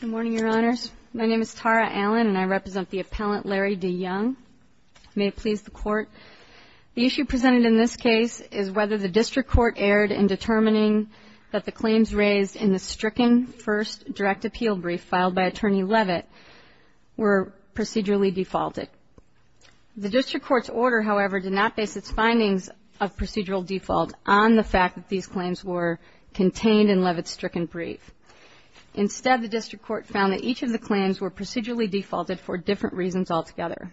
Good morning, Your Honors. My name is Tara Allen, and I represent the appellant Larry DeYoung. May it please the Court. The issue presented in this case is whether the District Court erred in determining that the claims raised in the stricken first direct appeal brief filed by Attorney Leavitt were procedurally defaulted. The District Court's order, however, did not base its findings of procedural default on the fact that these claims were procedurally defaulted for different reasons altogether.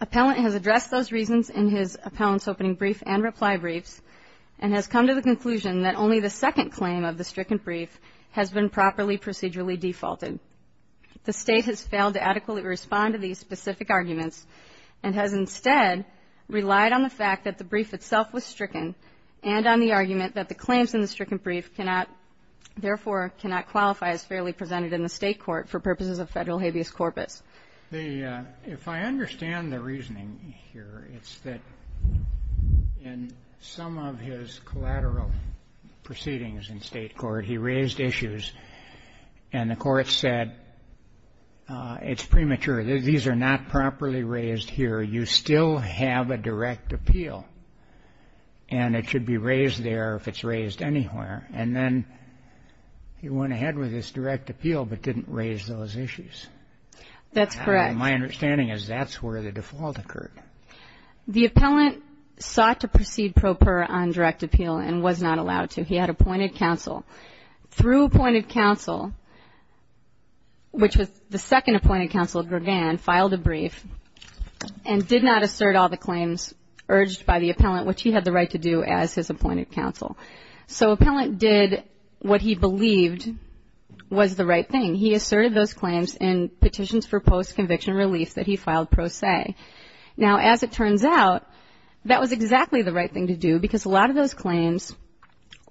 Appellant has addressed those reasons in his appellant's opening brief and reply briefs, and has come to the conclusion that only the second claim of the stricken brief has been properly procedurally defaulted. The State has failed to adequately respond to these specific arguments, and has instead relied on the fact that the brief itself was fairly presented in the State court for purposes of federal habeas corpus. LARRY DEYOUNG If I understand the reasoning here, it's that in some of his collateral proceedings in State court, he raised issues, and the court said, it's premature. These are not properly raised here. You still have a direct appeal, and it should be raised there if it's direct appeal, but didn't raise those issues. My understanding is that's where the default occurred. KATHLEEN SULLIVAN The appellant sought to proceed pro per on direct appeal, and was not allowed to. He had appointed counsel. Through appointed counsel, which was the second appointed counsel, Gregan, filed a brief, and did not assert all the claims urged by the appellant, which he had the right to do as his appointed counsel. That was the right thing. He asserted those claims in petitions for post-conviction relief that he filed pro se. Now, as it turns out, that was exactly the right thing to do, because a lot of those claims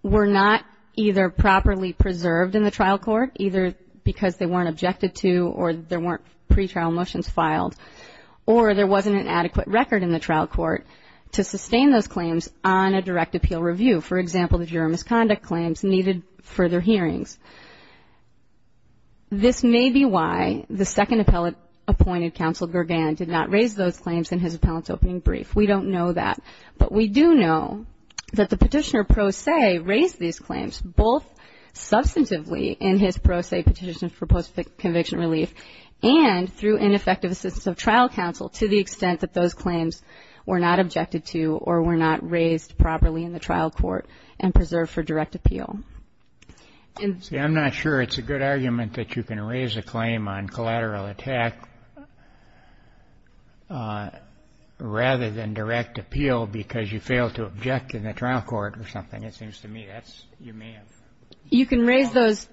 were not either properly preserved in the trial court, either because they weren't objected to, or there weren't pretrial motions filed, or there wasn't an adequate record in the trial court to sustain those claims on a direct appeal review. For example, the juror misconduct claims needed further hearings. This may be why the second appellate appointed counsel, Gregan, did not raise those claims in his appellant's opening brief. We don't know that. But we do know that the petitioner pro se raised these claims, both substantively in his pro se petition for post-conviction relief, and through ineffective assistance of trial counsel, to the extent that those claims were not objected to, or were not raised properly in the trial court and preserved for direct appeal. And so I'm not sure it's a good argument that you can raise a claim on collateral attack rather than direct appeal, because you failed to object in the trial court or something. It seems to me that you may have. You can raise those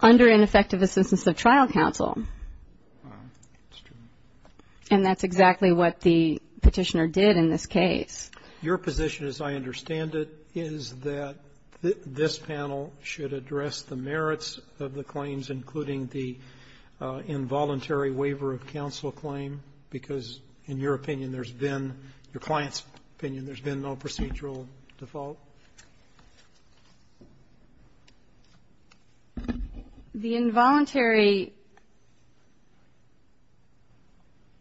under ineffective assistance of trial counsel. And that's exactly what the petitioner did in this case. Your position, as I understand it, is that this panel should address the merits of the claims, including the involuntary waiver of counsel claim, because in your opinion there's been, your client's opinion, there's been no procedural default? The involuntary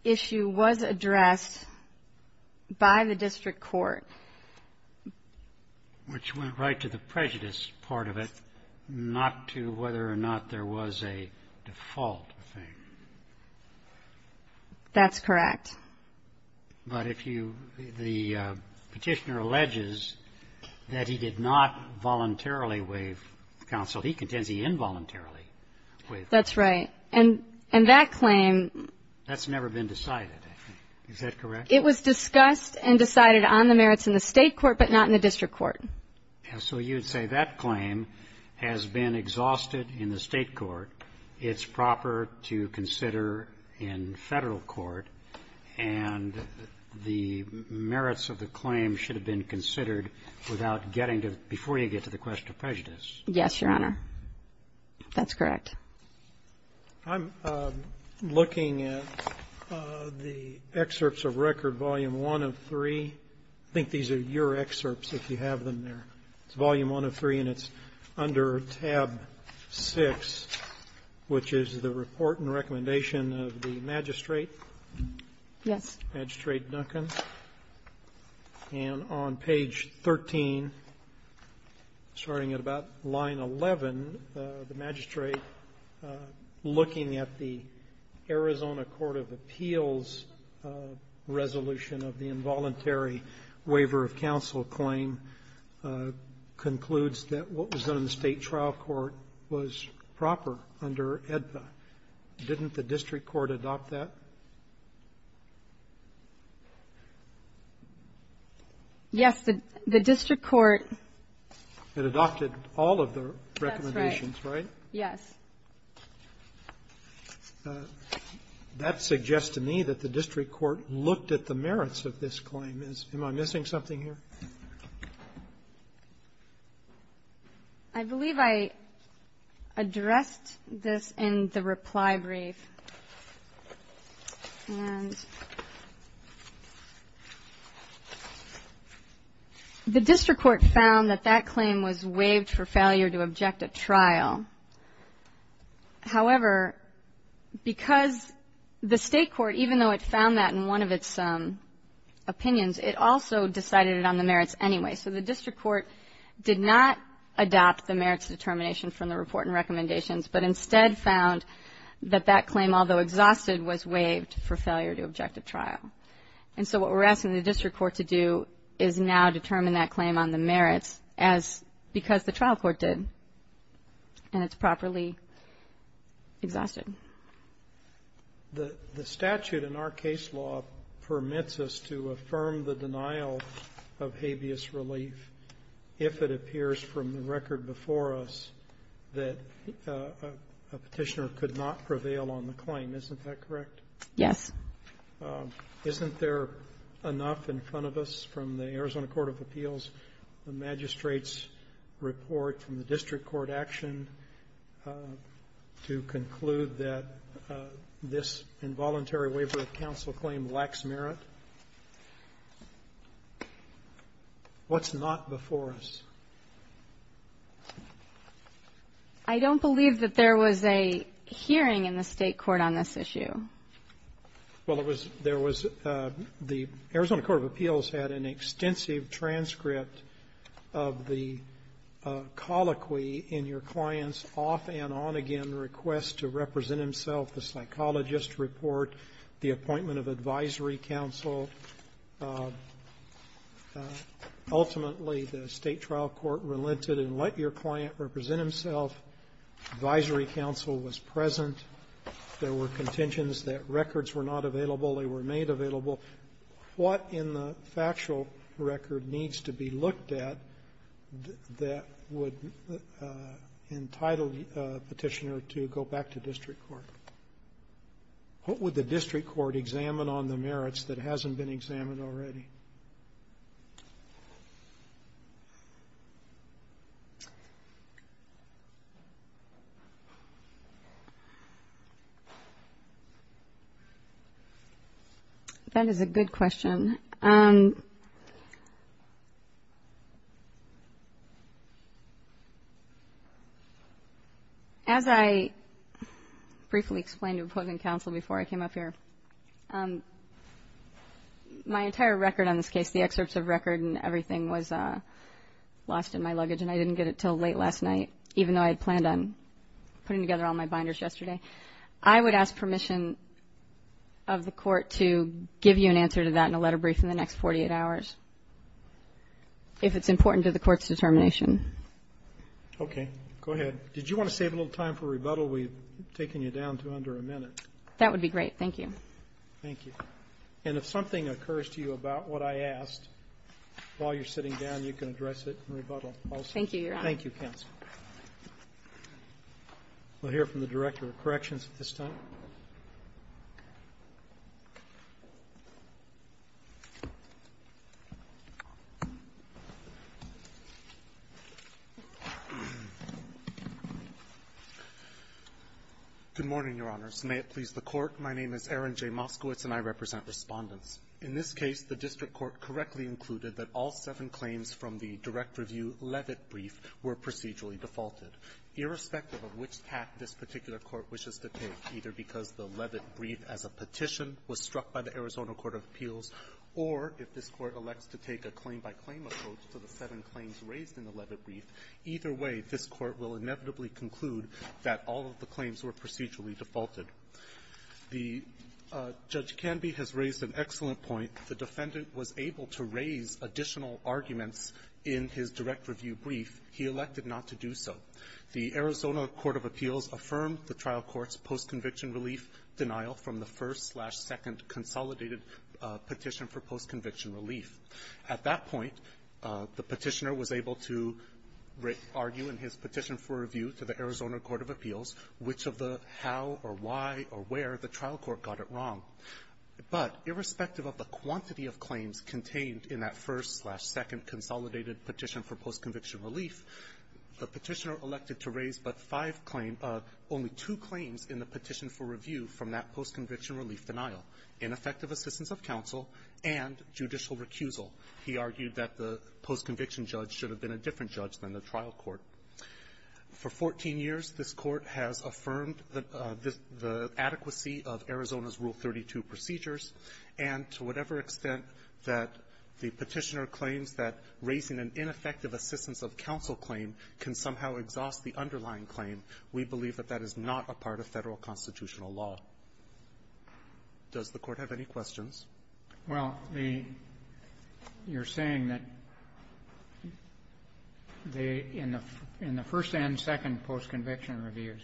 issue was addressed by the district court. Which went right to the prejudice part of it, not to whether or not there was a default thing. That's correct. But if you, the petitioner alleges that he did not voluntarily waive counsel. He contends he involuntarily waived counsel. That's right. And that claim. That's never been decided, I think. Is that correct? It was discussed and decided on the merits in the state court, but not in the district court. So you'd say that claim has been exhausted in the state court. It's proper to consider in Federal court. And the merits of the claim should have been considered without getting to, before you get to the question of prejudice. Yes, Your Honor. That's correct. I'm looking at the excerpts of record, volume 1 of 3. I think these are your excerpts, if you have them there. It's volume 1 of 3, and it's under tab 6, which is the report and recommendation of the magistrate. Yes. Magistrate Duncan. And on page 13, starting at about line 11, the magistrate looking at the Arizona Court of Appeals resolution of the involuntary waiver of counsel claim concludes that what was done in the state trial court was proper under AEDPA. Didn't the district court adopt that? Yes, the district court. It adopted all of the recommendations, right? Yes. That suggests to me that the district court looked at the merits of this claim. Am I missing something here? I believe I addressed this in the reply brief. And the district court found that that claim was waived for failure to object at trial. However, because the state court, even though it found that in one of its opinions, it also decided it on the merits anyway. So the district court did not adopt the merits determination from the report and recommendations, but instead found that that claim, although exhausted, was waived for failure to objective trial. And so what we're asking the district court to do is now determine that claim on the merits as because the trial court did, and it's properly exhausted. The statute in our case law permits us to affirm the denial of habeas relief if it appears from the record before us that a petitioner could not prevail on the claim. Isn't that correct? Yes. Isn't there enough in front of us from the Arizona Court of Appeals, the magistrate's report from the district court action to conclude that this involuntary waiver of counsel claim lacks merit? What's not before us? I don't believe that there was a hearing in the state court on this issue. Well, it was there was the Arizona Court of Appeals had an extensive transcript of the colloquy in your client's off and on again request to represent himself, the psychologist report, the appointment of advisory counsel. Ultimately, the state trial court relented and let your client represent himself. Advisory counsel was present. There were contentions that records were not available. They were made available. What in the factual record needs to be looked at that would entitle the petitioner to go back to district court? What would the district court examine on the merits that hasn't been examined already? That is a good question. As I briefly explained to opposing counsel before I came up here, my entire record on this case, the excerpts of record and everything was lost in my luggage and I didn't get it till late last night, even though I had planned on putting together all my binders yesterday. I would ask permission of the court to give you an answer to that in a letter brief in the next 48 hours if it's important to the court's determination. Okay, go ahead. Did you want to save a little time for rebuttal? We've taken you down to under a minute. That would be great. Thank you. Thank you. And if something occurs to you about what I asked while you're here, I'll let you know. Thank you, counsel. We'll hear from the Director of Corrections at this time. Good morning, Your Honors. May it please the Court, my name is Aaron J. Moskowitz and I represent Respondents. In this case, the district court correctly included that all seven claims from the direct review Levitt brief were procedurally defaulted. Irrespective of which path this particular court wishes to take, either because the Levitt brief as a petition was struck by the Arizona Court of Appeals or if this Court elects to take a claim-by-claim approach to the seven claims raised in the Levitt brief, either way, this Court will inevitably conclude that all of the claims were procedurally defaulted. Judge Canby has raised an excellent point. The defendant was able to raise additional arguments in his direct review brief. He elected not to do so. The Arizona Court of Appeals affirmed the trial court's post-conviction relief denial from the first-slash-second consolidated petition for post-conviction relief. At that point, the Petitioner was able to argue in his direct review of the how or why or where the trial court got it wrong. But irrespective of the quantity of claims contained in that first-slash-second consolidated petition for post-conviction relief, the Petitioner elected to raise but five claims of only two claims in the petition for review from that post-conviction relief denial, ineffective assistance of counsel and judicial recusal. He argued that the post-conviction judge should have been a different judge than the trial court. For 14 years, this Court has affirmed the adequacy of Arizona's Rule 32 procedures, and to whatever extent that the Petitioner claims that raising an ineffective assistance of counsel claim can somehow exhaust the underlying claim, we believe that that is not a part of Federal constitutional law. Does the Court have any questions? Well, the you're saying that the in the in the first and second post-conviction reviews,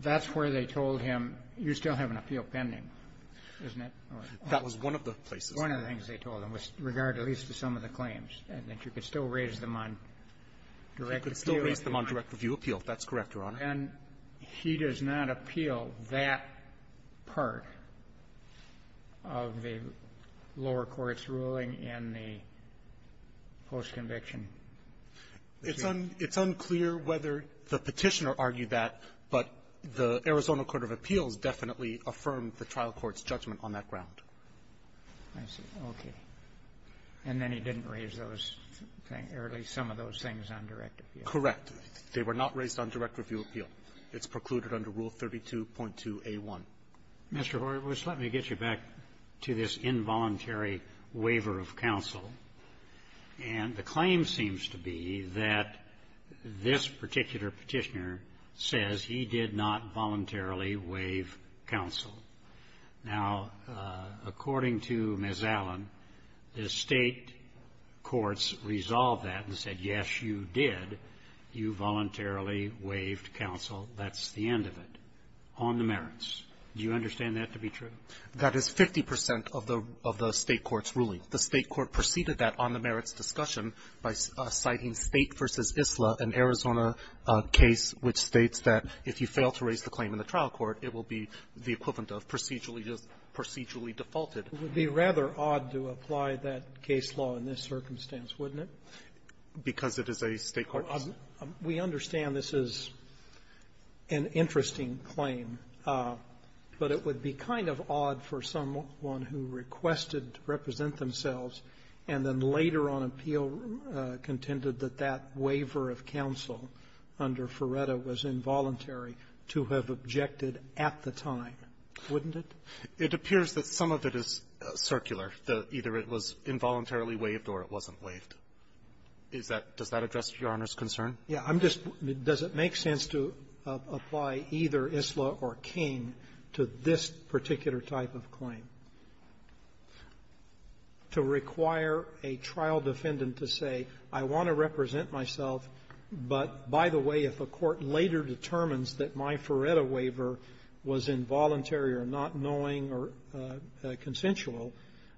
that's where they told him, you still have an appeal pending, isn't it? That was one of the places. One of the things they told him was regard at least to some of the claims, and that you could still raise them on direct appeal. You could still raise them on direct review appeal. That's correct, Your Honor. So then he does not appeal that part of the lower court's ruling in the post-conviction review? It's unclear whether the Petitioner argued that, but the Arizona Court of Appeals definitely affirmed the trial court's judgment on that ground. I see. Okay. And then he didn't raise those things, or at least some of those things on direct appeal. Correct. They were not raised on direct review appeal. It's precluded under Rule 32.2a1. Mr. Horowitz, let me get you back to this involuntary waiver of counsel. And the claim seems to be that this particular Petitioner says he did not voluntarily waive counsel. Now, according to Ms. Allen, the State courts resolved that and said, yes, you did. You voluntarily waived counsel. That's the end of it. On the merits, do you understand that to be true? That is 50 percent of the State court's ruling. The State court preceded that on the merits discussion by citing State v. Isla, an Arizona case which states that if you fail to raise the claim in the trial court, it will be the equivalent of procedurally defaulted. It would be rather odd to apply that case law in this circumstance, wouldn't it? Because it is a State court's ruling. So we understand this is an interesting claim, but it would be kind of odd for someone who requested to represent themselves and then later on appealed, contended that that waiver of counsel under Ferretta was involuntary to have objected at the time, wouldn't it? It appears that some of it is circular, that either it was involuntarily waived or it wasn't waived. Is that — does that address Your Honor's concern? Yeah. I'm just — does it make sense to apply either Isla or Cain to this particular type of claim? To require a trial defendant to say, I want to represent myself, but, by the way, if a court later determines that my Ferretta waiver was involuntary or not knowing or consensual,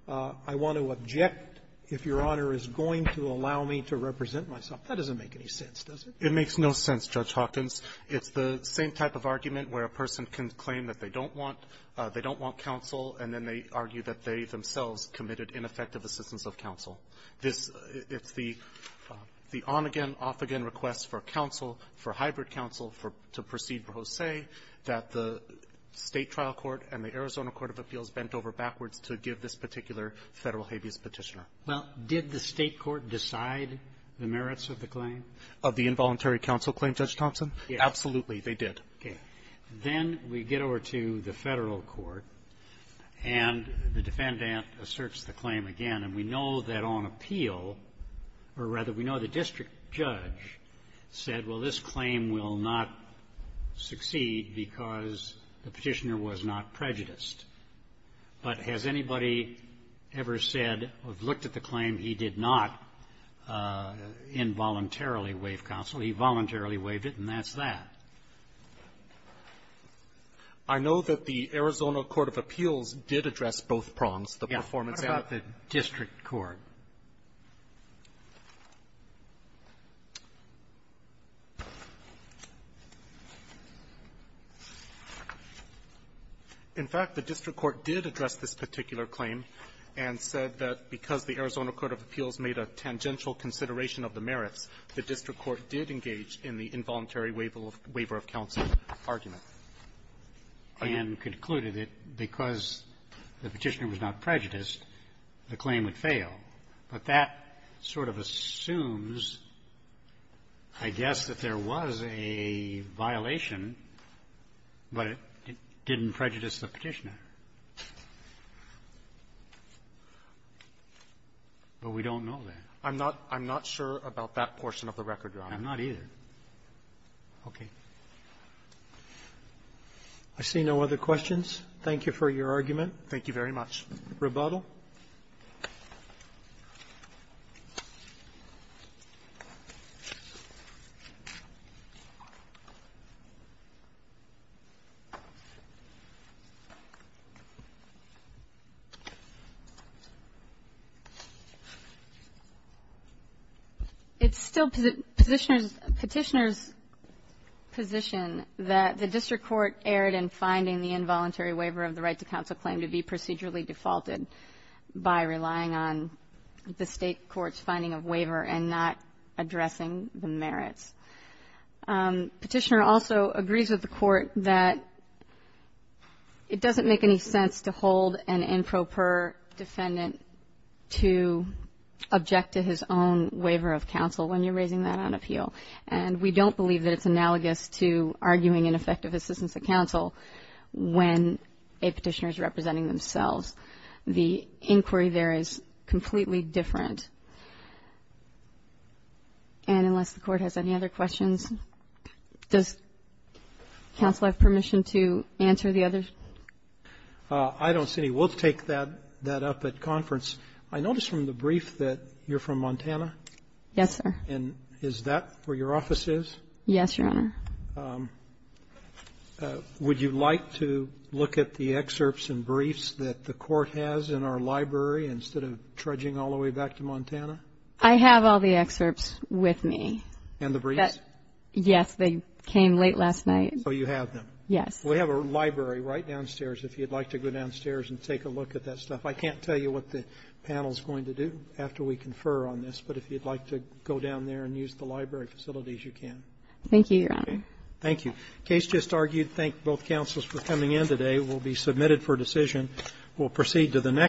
I want to object if Your Honor is going to allow me to represent myself. That doesn't make any sense, does it? It makes no sense, Judge Hawkins. It's the same type of argument where a person can claim that they don't want — they don't want counsel, and then they argue that they themselves committed ineffective assistance of counsel. This — it's the on-again, off-again request for counsel, for hybrid counsel, for — to proceed pro se, that the State trial court and the Arizona court of appeals bent over backwards to give this particular Federal habeas petitioner. Well, did the State court decide the merits of the claim? Of the involuntary counsel claim, Judge Thompson? Yes. Absolutely, they did. Okay. Then we get over to the Federal court, and the defendant asserts the claim again. And we know that on appeal — or, rather, we know the district judge said, well, this claim will not succeed because the petitioner was not prejudiced. But has anybody ever said or looked at the claim, he did not involuntarily waive counsel? He voluntarily waived it, and that's that. I know that the Arizona court of appeals did address both prongs, the performance of the district court. In fact, the district court did address this particular claim and said that because the Arizona court of appeals made a tangential consideration of the merits, the district court did engage in the involuntary waiver of counsel argument, and concluded that because the petitioner was not prejudiced, the claim would fail. But that sort of assumes, I guess, that there was a violation, but it didn't prejudice the petitioner. But we don't know that. I'm not — I'm not sure about that portion of the record, Your Honor. I'm not either. Okay. I see no other questions. Thank you for your argument. Thank you very much. Rebuttal. It's still petitioner's position that the district court erred in finding the involuntary waiver of the right to counsel claim to be procedurally defaulted by relying on the state court's finding of waiver and not addressing the merits. Petitioner also agrees with the court that it doesn't make any sense to hold an improper defendant to object to his own waiver of counsel when you're raising that on appeal. And we don't believe that it's analogous to arguing ineffective assistance of counsel when a petitioner is representing themselves. The inquiry there is completely different. And unless the Court has any other questions, does counsel have permission to answer the others? I don't see any. We'll take that up at conference. I noticed from the brief that you're from Montana. Yes, sir. And is that where your office is? Yes, Your Honor. Would you like to look at the excerpts and briefs that the court has in our library instead of trudging all the way back to Montana? I have all the excerpts with me. And the briefs? Yes, they came late last night. So you have them? Yes. We have a library right downstairs if you'd like to go downstairs and take a look at that stuff. I can't tell you what the panel's going to do after we confer on this. But if you'd like to go down there and use the library facilities, you can. Thank you, Your Honor. Thank you. The case just argued. Thank both counsels for coming in today. It will be submitted for decision. We'll proceed to the next.